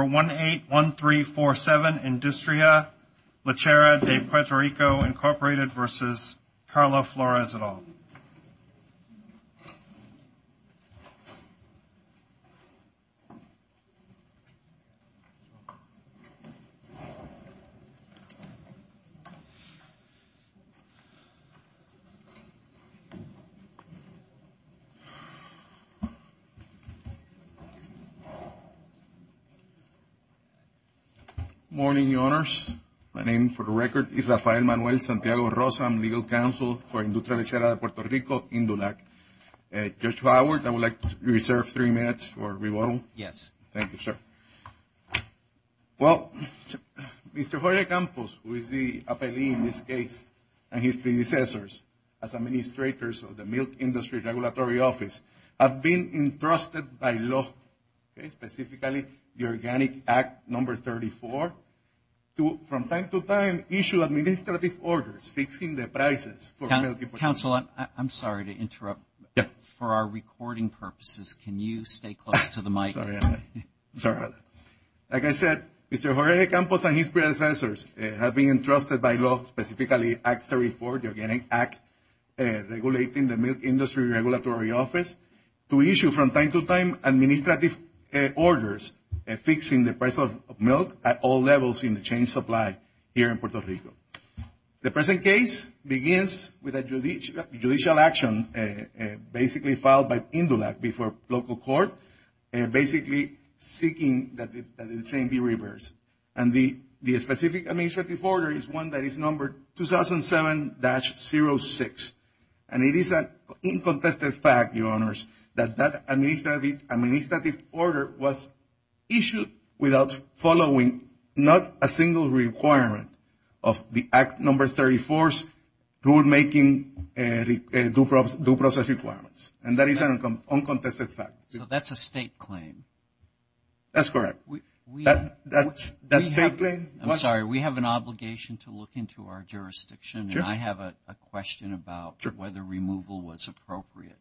181347 Industria Lechera de Puerto Rico, Inc. v. Carlo Flores et al. Good morning, your honors. My name, for the record, is Rafael Manuel Santiago Rosa. I'm legal counsel for Industria Lechera de Puerto Rico, Indulac. Judge Howard, I would like to reserve three minutes for rebuttal. Yes. Thank you, sir. Well, Mr. Jorge Campos, who is the appellee in this case, and his predecessors as administrators of the Milk Industry Regulatory Office, have been entrusted by law, specifically the Organic Act No. 34, to, from time to time, issue administrative orders fixing the prices for milk. Counsel, I'm sorry to interrupt. Yes. For our recording purposes, can you stay close to the mic? Sorry. Like I said, Mr. Jorge Campos and his predecessors have been entrusted by law, specifically Act 34, the Organic Act Regulating the Milk Industry Regulatory Office, to issue, from time to time, administrative orders fixing the price of milk at all levels in the chain supply here in Puerto Rico. The present case begins with a judicial action, basically filed by Indulac before local court, basically seeking that the same be reversed. And the specific administrative order is one that is numbered 2007-06. And it is an uncontested fact, your honors, that that administrative order was issued without following not a single requirement of the Act No. 34's rule-making due process requirements. And that is an uncontested fact. So that's a state claim. That's correct. That's a state claim. I'm sorry. We have an obligation to look into our jurisdiction. And I have a question about whether removal was appropriate.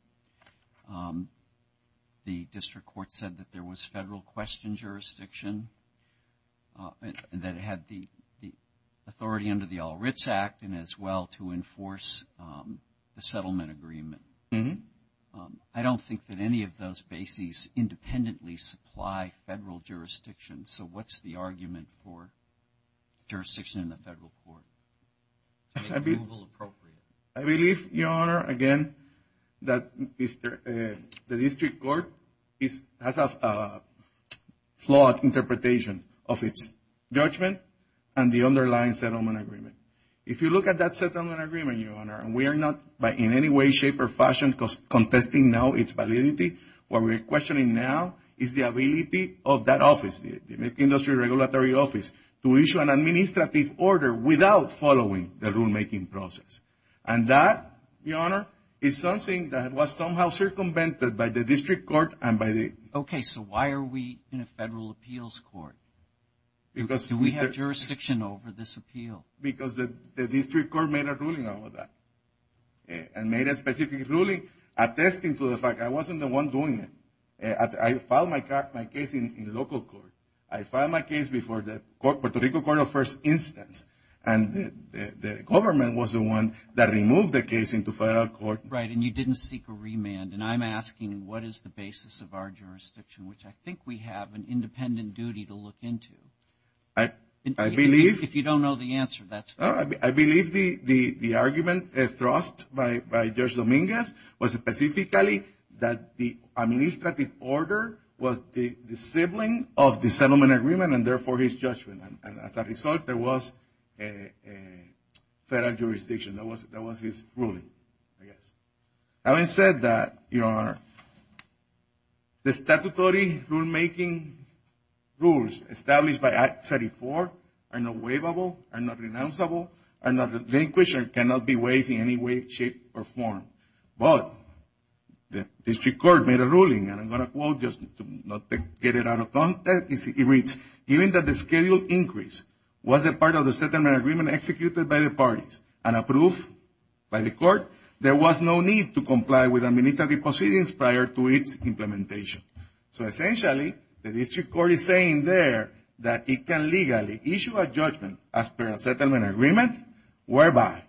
The district court said that there was federal question jurisdiction that had the authority under the All Writs Act, and as well to enforce the settlement agreement. I don't think that any of those bases independently supply federal jurisdiction. So what's the argument for jurisdiction in the federal court to make removal appropriate? I believe, your honor, again, that the district court has a flawed interpretation of its judgment and the underlying settlement agreement. If you look at that settlement agreement, your honor, and we are not in any way, shape, or fashion contesting now its validity. What we are questioning now is the ability of that office, the industry regulatory office, to issue an administrative order without following the rule-making process. And that, your honor, is something that was somehow circumvented by the district court and by the… Okay. So why are we in a federal appeals court? Do we have jurisdiction over this appeal? Because the district court made a ruling over that and made a specific ruling attesting to the fact I wasn't the one doing it. I filed my case in local court. I filed my case before the Puerto Rico Court of First Instance, and the government was the one that removed the case into federal court. Right, and you didn't seek a remand. And I'm asking what is the basis of our jurisdiction, which I think we have an independent duty to look into. I believe… If you don't know the answer, that's fine. I believe the argument thrust by Judge Dominguez was specifically that the administrative order was the sibling of the settlement agreement and, therefore, his judgment. And as a result, there was a federal jurisdiction. That was his ruling, I guess. Having said that, Your Honor, the statutory rulemaking rules established by Act 34 are not waivable, are not renounceable, are not relinquished, and cannot be waived in any way, shape, or form. But the district court made a ruling, and I'm going to quote just to get it out of context. It reads, given that the schedule increase was a part of the settlement agreement executed by the parties and approved by the court, there was no need to comply with administrative proceedings prior to its implementation. So, essentially, the district court is saying there that it can legally issue a judgment as per a settlement agreement whereby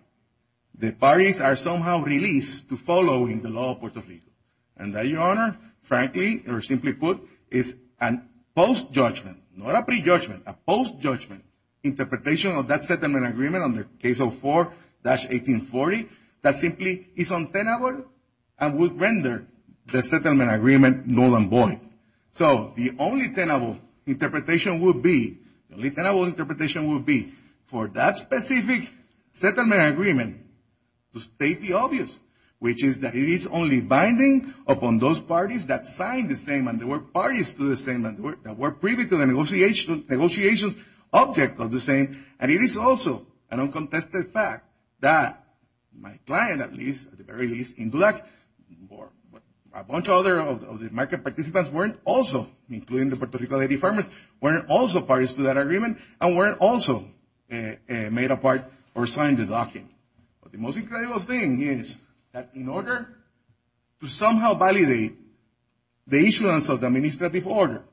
the parties are somehow released to following the law of Puerto Rico. And that, Your Honor, frankly, or simply put, is a post-judgment, not a pre-judgment, a post-judgment interpretation of that settlement agreement under Case 04-1840 that simply is untenable and would render the settlement agreement null and void. So the only tenable interpretation would be, the only tenable interpretation would be, for that specific settlement agreement to state the obvious, which is that it is only binding upon those parties that signed the same, and there were parties to the same that were privy to the negotiations, object of the same. And it is also an uncontested fact that my client, at least, at the very least, Indulak or a bunch of other of the market participants weren't also, including the Puerto Rico lady farmers, weren't also parties to that agreement and weren't also made a part or signed the document. But the most incredible thing is that in order to somehow validate the issuance of the administrative order,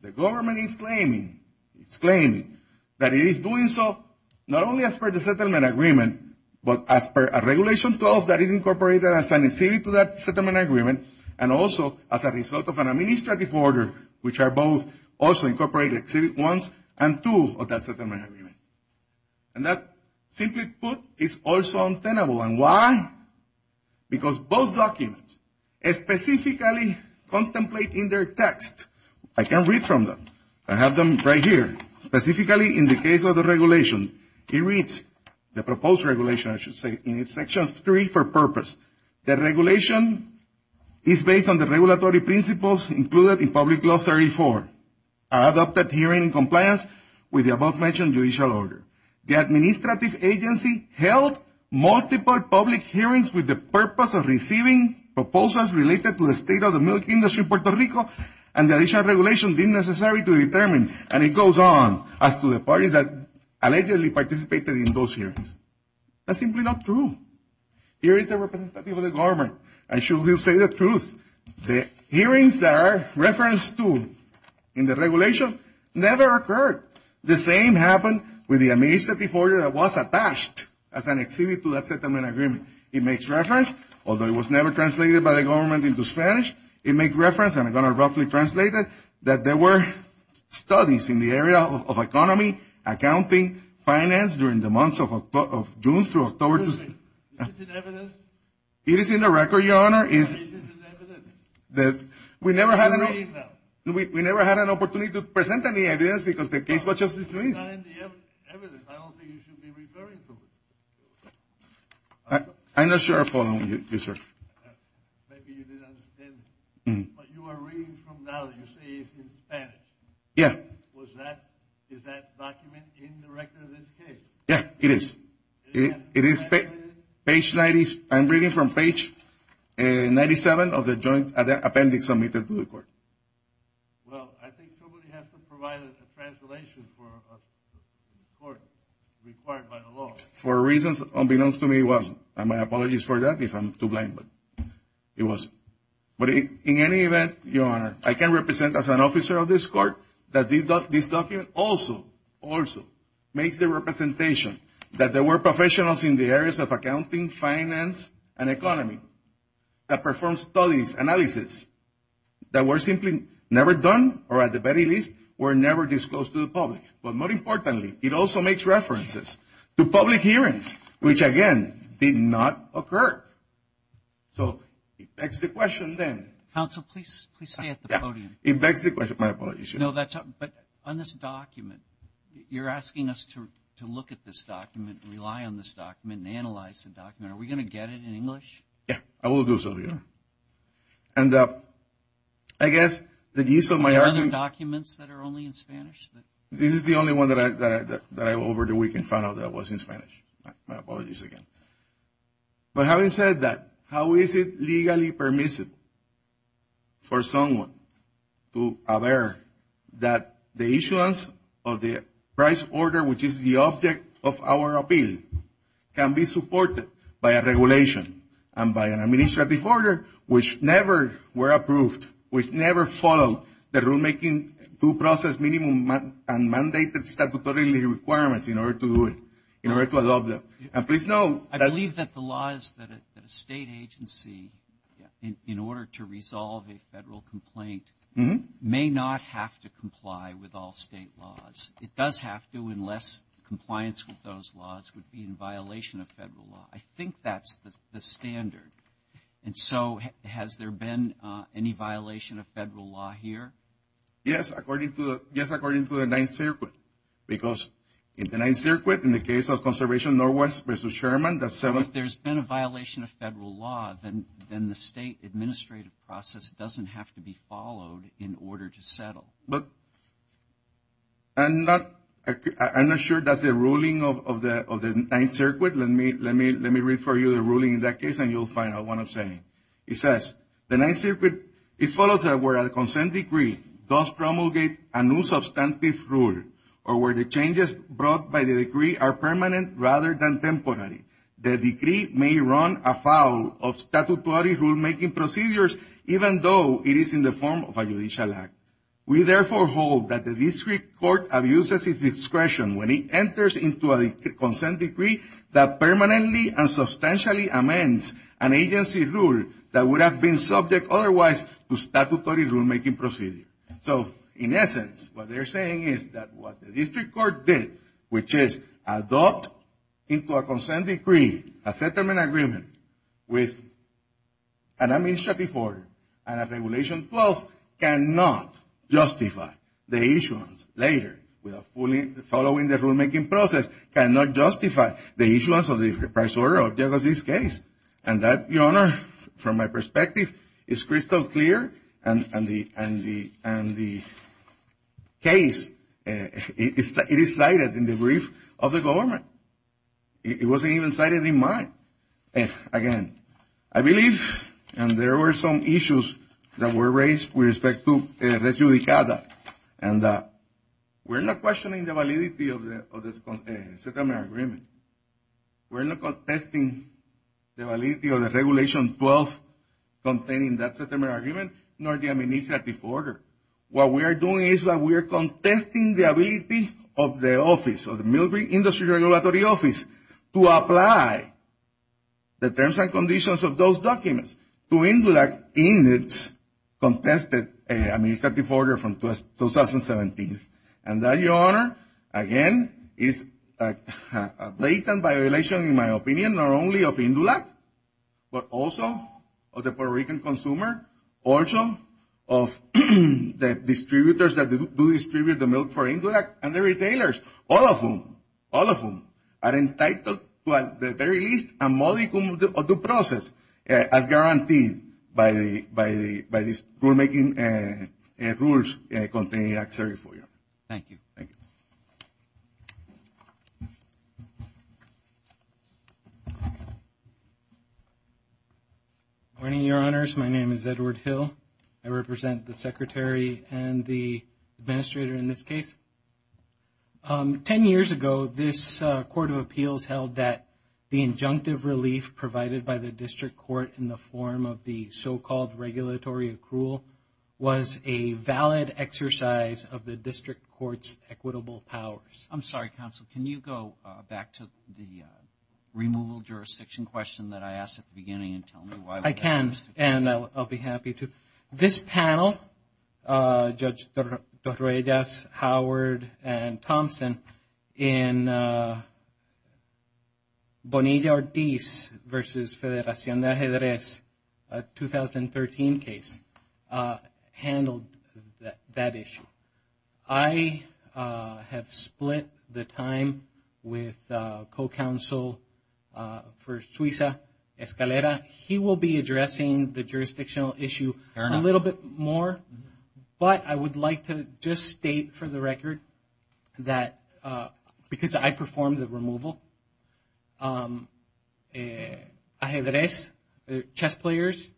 the government is claiming, it's claiming, that it is doing so not only as per the settlement agreement, but as per a regulation clause that is incorporated as an exhibit to that settlement agreement and also as a result of an administrative order, which are both also incorporated exhibit ones and two of that settlement agreement. And that, simply put, is also untenable. And why? Because both documents specifically contemplate in their text, I can read from them, I have them right here, specifically in the case of the regulation, it reads, the proposed regulation, I should say, in section three for purpose, that regulation is based on the regulatory principles included in public law 34, adopted hearing compliance with the above-mentioned judicial order. The administrative agency held multiple public hearings with the purpose of receiving proposals related to the state of the milk industry in Puerto Rico, and the additional regulation being necessary to determine, and it goes on, as to the parties that allegedly participated in those hearings. That's simply not true. Here is the representative of the government, and she will say the truth. The hearings that are referenced to in the regulation never occurred. The same happened with the administrative order that was attached as an exhibit to that settlement agreement. It makes reference, although it was never translated by the government into Spanish, it makes reference, and I'm going to roughly translate it, that there were studies in the area of economy, accounting, finance, during the months of June through October. Is this in evidence? It is in the record, Your Honor. Is this in evidence? We never had an opportunity to present any evidence because the case was just dismissed. It's not in the evidence. I don't think you should be referring to it. I'm not sure I follow you, sir. Maybe you didn't understand, but you are reading from now that you say it's in Spanish. Yeah. Is that document in the record of this case? Yeah, it is. It is page 90. I'm reading from page 97 of the joint appendix submitted to the court. Well, I think somebody has to provide a translation for a court required by the law. For reasons unbeknownst to me, it wasn't, and my apologies for that if I'm too blind, but it wasn't. But in any event, Your Honor, I can represent as an officer of this court that this document also, makes the representation that there were professionals in the areas of accounting, finance, and economy that performed studies, analysis, that were simply never done or, at the very least, were never disclosed to the public. But more importantly, it also makes references to public hearings, which, again, did not occur. So it begs the question then. Counsel, please stay at the podium. It begs the question. My apologies, Your Honor. You know, but on this document, you're asking us to look at this document, rely on this document, and analyze the document. Are we going to get it in English? Yeah, I will do so, Your Honor. And I guess the use of my argument. Are there other documents that are only in Spanish? This is the only one that I, over the weekend, found out that it was in Spanish. My apologies again. But having said that, how is it legally permissible for someone to aver that the issuance of the price order, which is the object of our appeal, can be supported by a regulation and by an administrative order, which never were approved, which never followed the rulemaking due process minimum and mandated statutory requirements in order to do it, in order to adopt them. I believe that the law is that a state agency, in order to resolve a federal complaint, may not have to comply with all state laws. It does have to unless compliance with those laws would be in violation of federal law. I think that's the standard. And so has there been any violation of federal law here? Yes, according to the Ninth Circuit. Because in the Ninth Circuit, in the case of Conservation Northwest v. Sherman, that's seven. If there's been a violation of federal law, then the state administrative process doesn't have to be followed in order to settle. But I'm not sure that's the ruling of the Ninth Circuit. Let me read for you the ruling in that case, and you'll find out what I'm saying. It says, that would have been subject otherwise to statutory rulemaking procedure. So, in essence, what they're saying is that what the district court did, which is adopt into a consent decree a settlement agreement with an administrative order and a Regulation 12 cannot justify the issuance later following the rulemaking process, cannot justify the issuance of the first order of this case. And that, Your Honor, from my perspective, is crystal clear. And the case, it is cited in the brief of the government. It wasn't even cited in mine. Again, I believe, and there were some issues that were raised with respect to Resjudicada. And we're not questioning the validity of the settlement agreement. We're not contesting the validity of the Regulation 12 containing that settlement agreement, nor the administrative order. What we are doing is that we are contesting the ability of the office, of the Millbury Industry Regulatory Office, to apply the terms and conditions of those documents to indulge in its contested administrative order from 2017. And that, Your Honor, again, is a blatant violation, in my opinion, not only of Indulac, but also of the Puerto Rican consumer, also of the distributors that do distribute the milk for Indulac and the retailers, all of whom are entitled to at the very least a modicum of the process as guaranteed by these rulemaking rules contained in Act 34. Thank you. Thank you. Good morning, Your Honors. My name is Edward Hill. I represent the Secretary and the Administrator in this case. Ten years ago, this Court of Appeals held that the injunctive relief provided by the District Court in the form of the so-called regulatory accrual was a valid exercise of the District Court's equitable powers. I'm sorry, Counsel. Can you go back to the removal jurisdiction question that I asked at the beginning and tell me why? I can, and I'll be happy to. This panel, Judge Torreyes, Howard, and Thompson, in Bonilla-Ortiz v. Federacion de Ajedrez, a 2013 case, handled that issue. I have split the time with co-counsel for Suiza, Escalera. He will be addressing the jurisdictional issue a little bit more, but I would like to just state for the record that because I performed the removal, Ajedrez, chess players,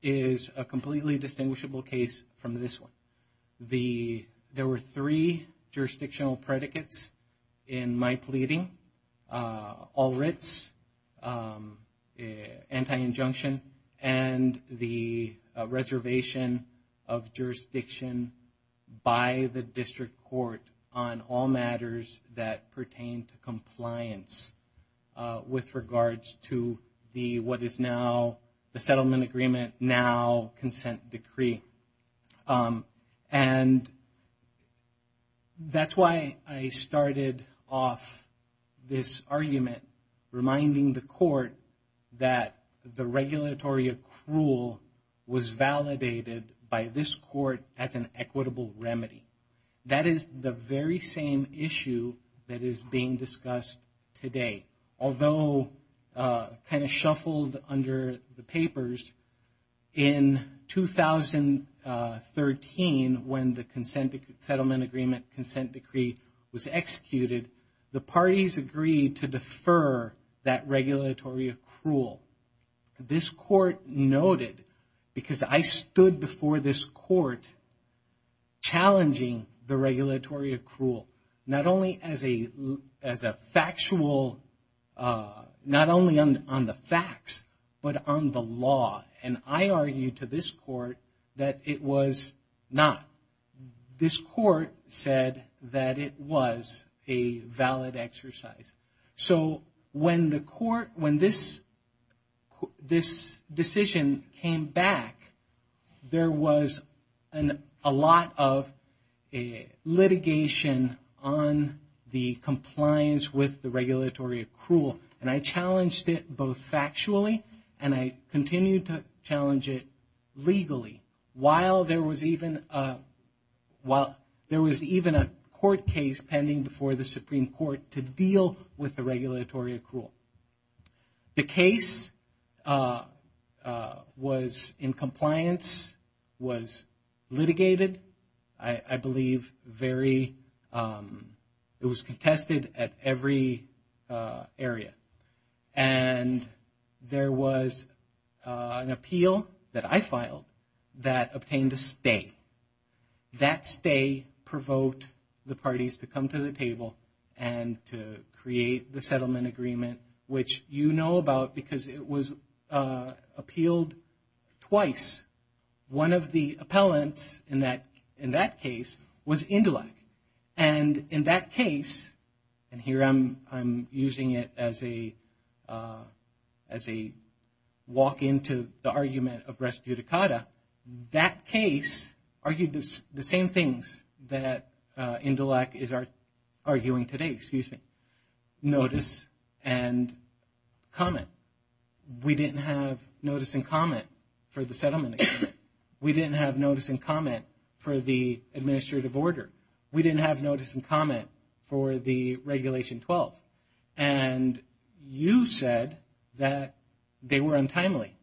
is a completely distinguishable case from this one. There were three jurisdictional predicates in my pleading. All writs, anti-injunction, and the reservation of jurisdiction by the District Court on all matters that pertain to compliance with regards to what is now the settlement agreement, now consent decree. And that's why I started off this argument reminding the court that the regulatory accrual was validated by this court as an equitable remedy. That is the very same issue that is being discussed today. Although kind of shuffled under the papers, in 2013, when the settlement agreement consent decree was executed, the parties agreed to defer that regulatory accrual. This court noted, because I stood before this court challenging the regulatory accrual, not only on the facts, but on the law. And I argued to this court that it was not. This court said that it was a valid exercise. So when this decision came back, there was a lot of litigation on the compliance with the regulatory accrual. And I challenged it both factually and I continued to challenge it legally. While there was even a court case pending before the Supreme Court to deal with the regulatory accrual. The case was in compliance, was litigated. I believe it was contested at every area. And there was an appeal that I filed that obtained a stay. That stay provoked the parties to come to the table and to create the settlement agreement, which you know about because it was appealed twice. One of the appellants in that case was Indelac. And in that case, and here I'm using it as a walk into the argument of res judicata, that case argued the same things that Indelac is arguing today, excuse me. Notice and comment. We didn't have notice and comment for the settlement agreement. We didn't have notice and comment for the administrative order. We didn't have notice and comment for the Regulation 12. And you said that they were untimely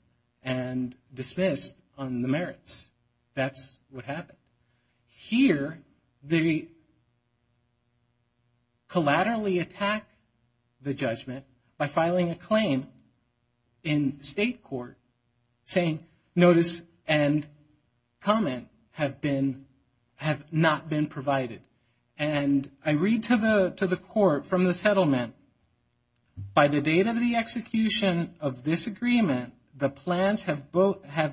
and dismissed on the merits. That's what happened. Here, they collaterally attack the judgment by filing a claim in state court saying notice and comment have not been provided. And I read to the court from the settlement, by the date of the execution of this agreement, the plans have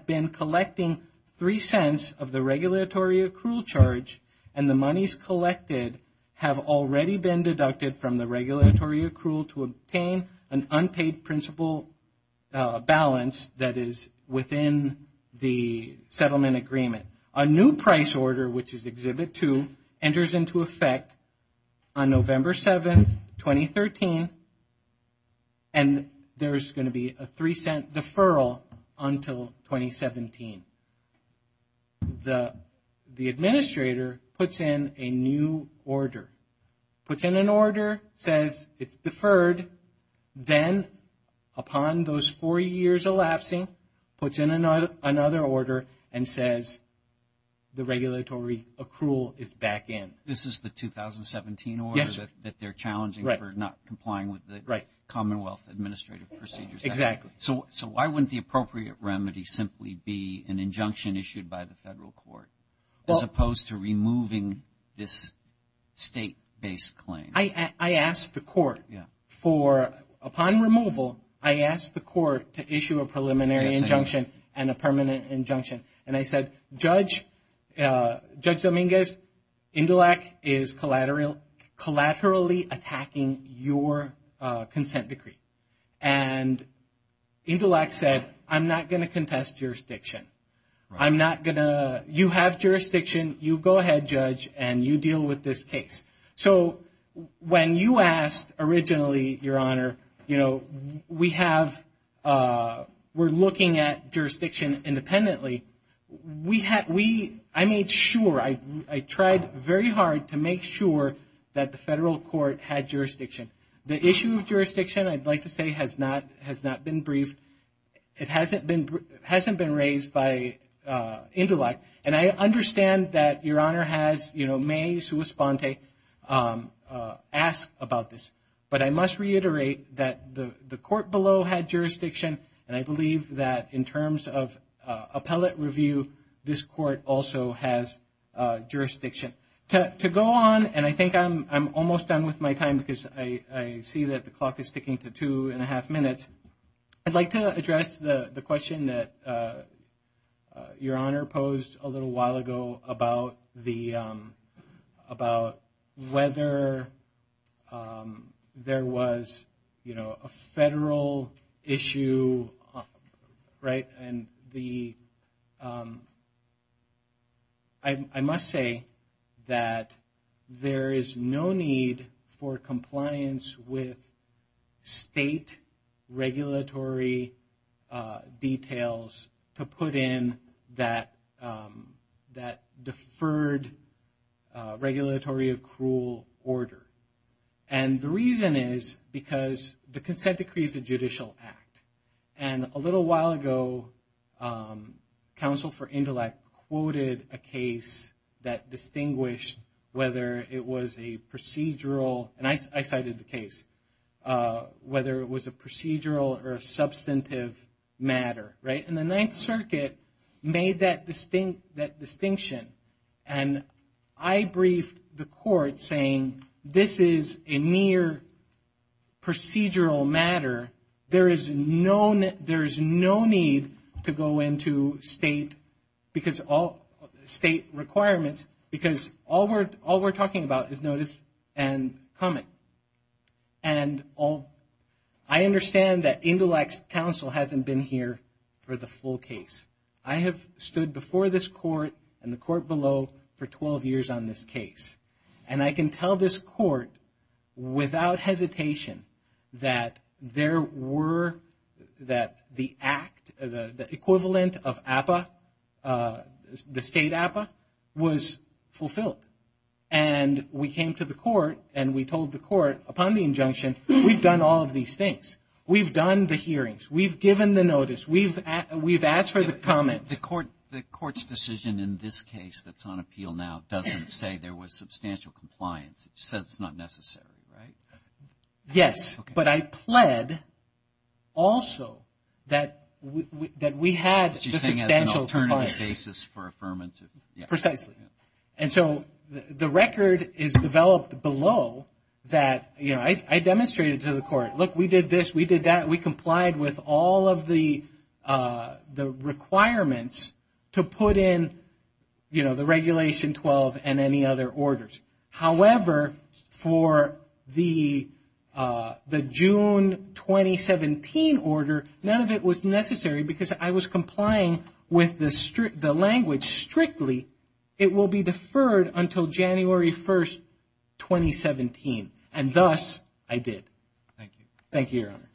been collecting 3 cents of the regulatory accrual charge and the monies collected have already been deducted from the regulatory accrual to obtain an unpaid principal balance that is within the settlement agreement. A new price order, which is Exhibit 2, enters into effect on November 7, 2013. And there's going to be a 3 cent deferral until 2017. The administrator puts in a new order. Puts in an order, says it's deferred, then upon those four years elapsing, puts in another order and says the regulatory accrual is back in. This is the 2017 order that they're challenging for not complying with the Commonwealth Administrative Procedures Act. Exactly. So why wouldn't the appropriate remedy simply be an injunction issued by the federal court as opposed to removing this state-based claim? I asked the court for, upon removal, I asked the court to issue a preliminary injunction and a permanent injunction. And I said, Judge Dominguez, INDELAC is collaterally attacking your consent decree. And INDELAC said, I'm not going to contest jurisdiction. I'm not going to, you have jurisdiction. You go ahead, Judge, and you deal with this case. So when you asked originally, Your Honor, you know, we have, we're looking at jurisdiction independently. I made sure, I tried very hard to make sure that the federal court had jurisdiction. The issue of jurisdiction, I'd like to say, has not been briefed. It hasn't been raised by INDELAC. And I understand that Your Honor has, you know, may sui sponte, asked about this. But I must reiterate that the court below had jurisdiction, and I believe that in terms of appellate review, this court also has jurisdiction. To go on, and I think I'm almost done with my time because I see that the clock is ticking to two and a half minutes. I'd like to address the question that Your Honor posed a little while ago about whether there was, you know, a federal issue, right? And the, I must say that there is no need for compliance with state regulatory details to put in that deferred regulatory accrual order. And the reason is because the consent decree is a judicial act. And a little while ago, counsel for INDELAC quoted a case that distinguished whether it was a procedural, and I cited the case, whether it was a procedural or a substantive matter, right? And the Ninth Circuit made that distinction. And I briefed the court saying this is a near procedural matter. There is no need to go into state requirements because all we're talking about is notice and comment. And I understand that INDELAC's counsel hasn't been here for the full case. I have stood before this court and the court below for 12 years on this case. And I can tell this court without hesitation that there were, that the act, the equivalent of APA, the state APA, was fulfilled. And we came to the court and we told the court, upon the injunction, we've done all of these things. We've done the hearings. We've given the notice. We've asked for the comments. The court's decision in this case that's on appeal now doesn't say there was substantial compliance. It says it's not necessary, right? Yes, but I pled also that we had substantial compliance. What you're saying is an alternative basis for affirmative. Precisely. And so the record is developed below that I demonstrated to the court. Look, we did this. We did that. We complied with all of the requirements to put in the Regulation 12 and any other orders. However, for the June 2017 order, none of it was necessary because I was complying with the language strictly. It will be deferred until January 1, 2017. And thus, I did. Thank you. Thank you, Your Honor.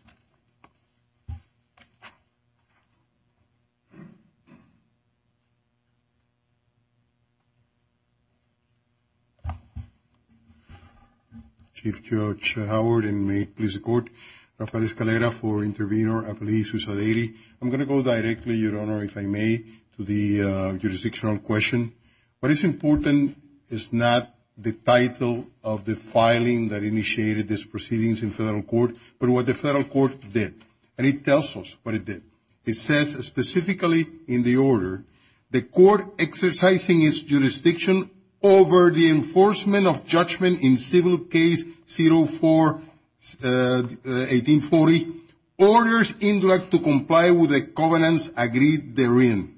Chief Judge Howard, and may it please the Court, Rafael Escalera for Intervenor Appellee Sousa Daly. I'm going to go directly, Your Honor, if I may, to the jurisdictional question. What is important is not the title of the filing that initiated this proceedings in federal court, but what the federal court did. And it tells us what it did. It says specifically in the order, the court exercising its jurisdiction over the enforcement of judgment in Civil Case 04-1840, orders indirect to comply with the covenants agreed therein.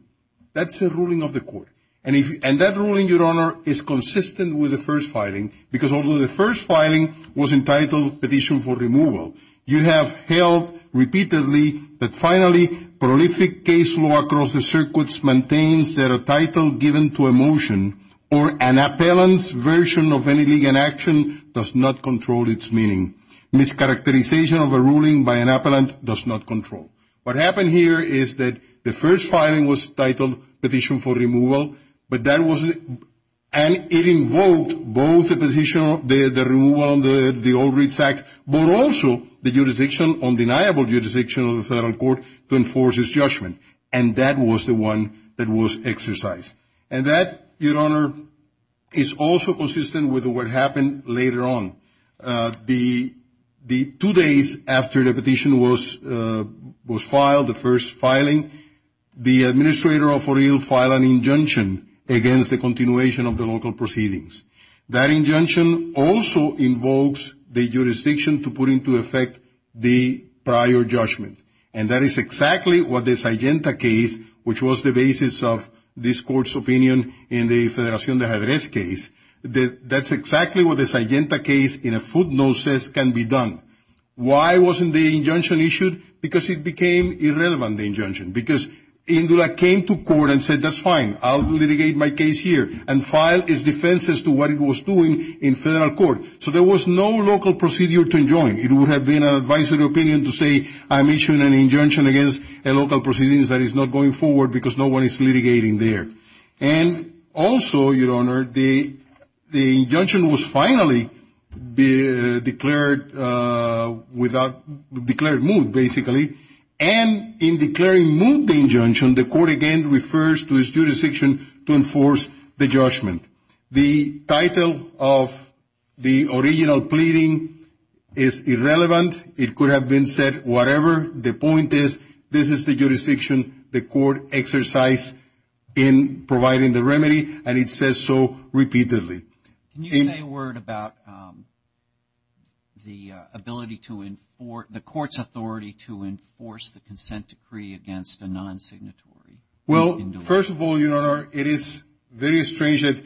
That's the ruling of the court. And that ruling, Your Honor, is consistent with the first filing because although the first filing was entitled Petition for Removal, you have held repeatedly that finally prolific case law across the circuits maintains that a title given to a motion or an appellant's version of any legal action does not control its meaning. Mischaracterization of a ruling by an appellant does not control. What happened here is that the first filing was titled Petition for Removal, but that wasn't, and it invoked both the position of the removal of the Old Reads Act, but also the jurisdiction, undeniable jurisdiction of the federal court to enforce its judgment. And that was the one that was exercised. And that, Your Honor, is also consistent with what happened later on. The two days after the petition was filed, the first filing, the administrator of Fort Hill filed an injunction against the continuation of the local proceedings. That injunction also invokes the jurisdiction to put into effect the prior judgment. And that is exactly what the Sygenta case, which was the basis of this court's opinion in the Federación de Jardines case, that's exactly what the Sygenta case in a footnote says can be done. Why wasn't the injunction issued? Because it became irrelevant, the injunction, because Indula came to court and said, that's fine, I'll litigate my case here, and filed its defense as to what it was doing in federal court. So there was no local procedure to enjoin. It would have been an advisory opinion to say, I'm issuing an injunction against a local proceedings that is not going forward because no one is litigating there. And also, Your Honor, the injunction was finally declared moot, basically. And in declaring moot the injunction, the court again refers to its jurisdiction to enforce the judgment. The title of the original pleading is irrelevant. It could have been said whatever. The point is, this is the jurisdiction the court exercised in providing the remedy, and it says so repeatedly. Can you say a word about the ability to enforce, the court's authority to enforce the consent decree against a non-signatory? Well, first of all, Your Honor, it is very strange that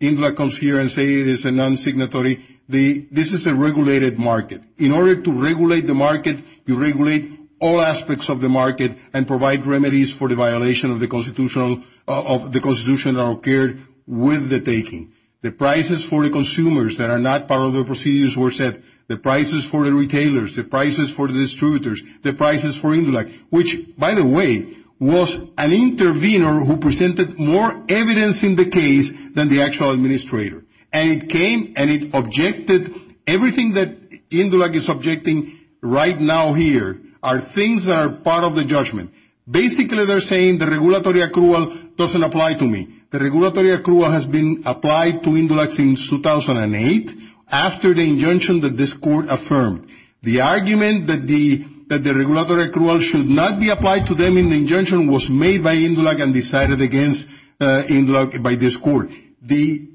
Indula comes here and says it is a non-signatory. This is a regulated market. In order to regulate the market, you regulate all aspects of the market and provide remedies for the violation of the Constitution that occurred with the taking. The prices for the consumers that are not part of the procedures were set. The prices for the retailers, the prices for the distributors, the prices for Indula, which, by the way, was an intervener who presented more evidence in the case than the actual administrator. And it came and it objected. Everything that Indula is objecting right now here are things that are part of the judgment. Basically, they're saying the regulatory accrual doesn't apply to me. The regulatory accrual has been applied to Indula since 2008 after the injunction that this court affirmed. The argument that the regulatory accrual should not be applied to them in the injunction was made by Indula and decided against Indula by this court. The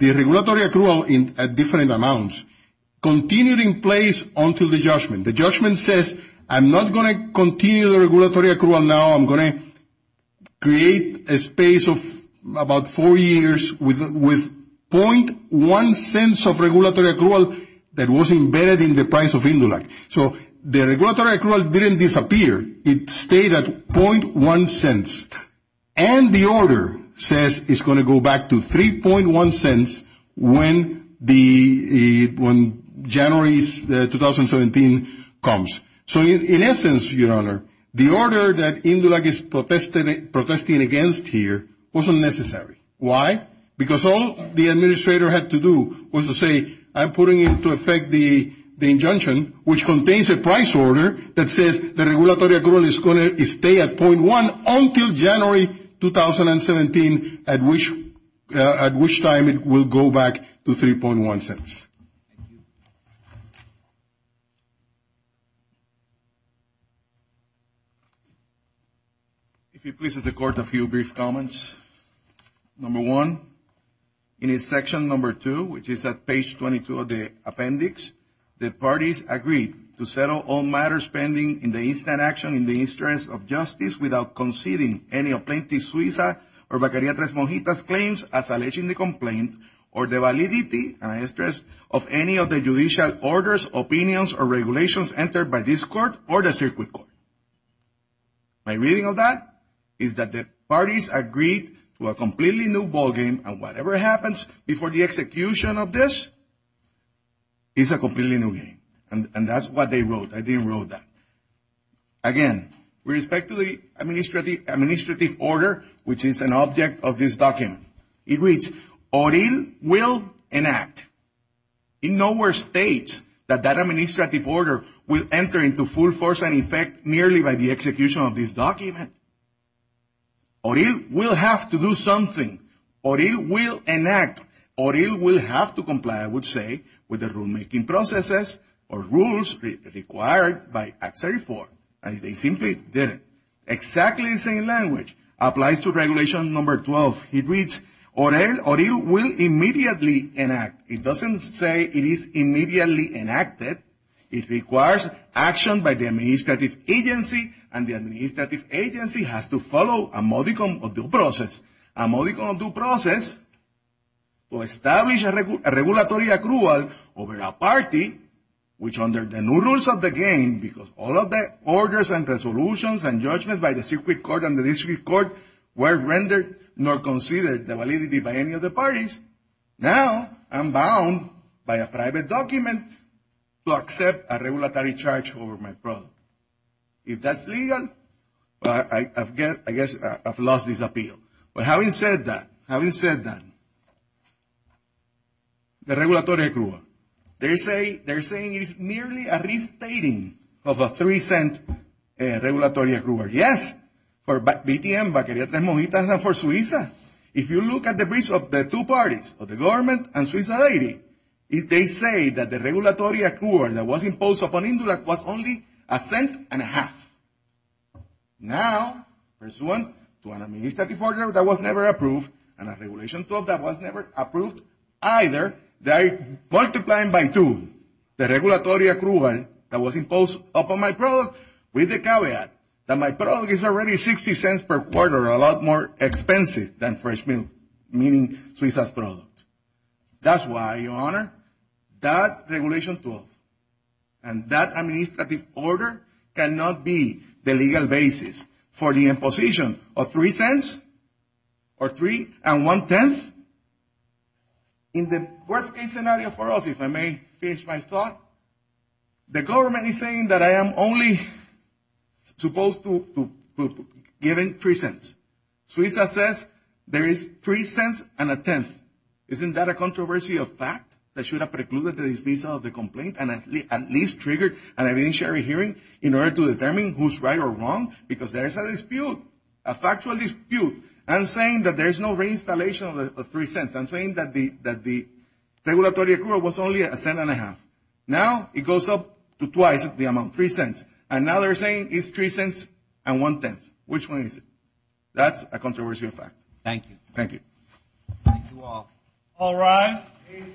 regulatory accrual at different amounts continued in place until the judgment. The judgment says, I'm not going to continue the regulatory accrual now. I'm going to create a space of about four years with .1 cents of regulatory accrual that was embedded in the price of Indula. So the regulatory accrual didn't disappear. It stayed at .1 cents. And the order says it's going to go back to 3.1 cents when January 2017 comes. So in essence, Your Honor, the order that Indula is protesting against here wasn't necessary. Why? Because all the administrator had to do was to say, I'm putting into effect the injunction, which contains a price order that says the regulatory accrual is going to stay at .1 until January 2017, at which time it will go back to 3.1 cents. If it pleases the Court, a few brief comments. Number one, in section number two, which is at page 22 of the appendix, the parties agreed to settle all matters pending in the instant action in the interest of justice without conceding any plaintiff's Suiza or Bacariatres Mojitas claims as alleging the complaint or the validity, and I stress, of any of the judicial orders, opinions, or regulations entered by this court or the circuit court. My reading of that is that the parties agreed to a completely new ballgame, and whatever happens before the execution of this is a completely new game. And that's what they wrote. I didn't write that. Again, with respect to the administrative order, which is an object of this document, it reads, Oril will enact. It nowhere states that that administrative order will enter into full force and effect merely by the execution of this document. Oril will have to do something. Oril will enact. Oril will have to comply, I would say, with the rulemaking processes or rules required by Act 34. And they simply didn't. Exactly the same language applies to regulation number 12. It reads, Oril will immediately enact. It doesn't say it is immediately enacted. It requires action by the administrative agency, and the administrative agency has to follow a modicum of due process. A modicum of due process will establish a regulatory accrual over a party, which under the new rules of the game, because all of the orders and resolutions and judgments by the circuit court and the district court were rendered nor considered the validity by any of the parties, now I'm bound by a private document to accept a regulatory charge over my product. If that's legal, I guess I've lost this appeal. But having said that, having said that, the regulatory accrual, they're saying it's merely a restating of a $0.03 regulatory accrual. Yes, for BTM, Baqueria Tres Mojitas, and for Suiza. If you look at the briefs of the two parties, of the government and Suiza Deiri, they say that the regulatory accrual that was imposed upon Indurac was only a cent and a half. Now, pursuant to an administrative order that was never approved, and a Regulation 12 that was never approved, either they're multiplying by two, the regulatory accrual that was imposed upon my product, with the caveat that my product is already $0.60 per quarter, a lot more expensive than fresh milk, meaning Suiza's product. That's why, Your Honor, that Regulation 12 and that administrative order cannot be the legal basis for the imposition of $0.03 or $0.01. In the worst case scenario for us, if I may finish my thought, the government is saying that I am only supposed to be given $0.03. Suiza says there is $0.03 and a tenth. Isn't that a controversy of fact that should have precluded the dismissal of the complaint and at least triggered an evidentiary hearing in order to determine who's right or wrong? Because there's a dispute, a factual dispute. I'm saying that there's no reinstallation of $0.03. I'm saying that the regulatory accrual was only a cent and a half. Now it goes up to twice the amount, $0.03. And now they're saying it's $0.03 and one-tenth. Which one is it? That's a controversy of fact. Thank you. Thank you all. All rise.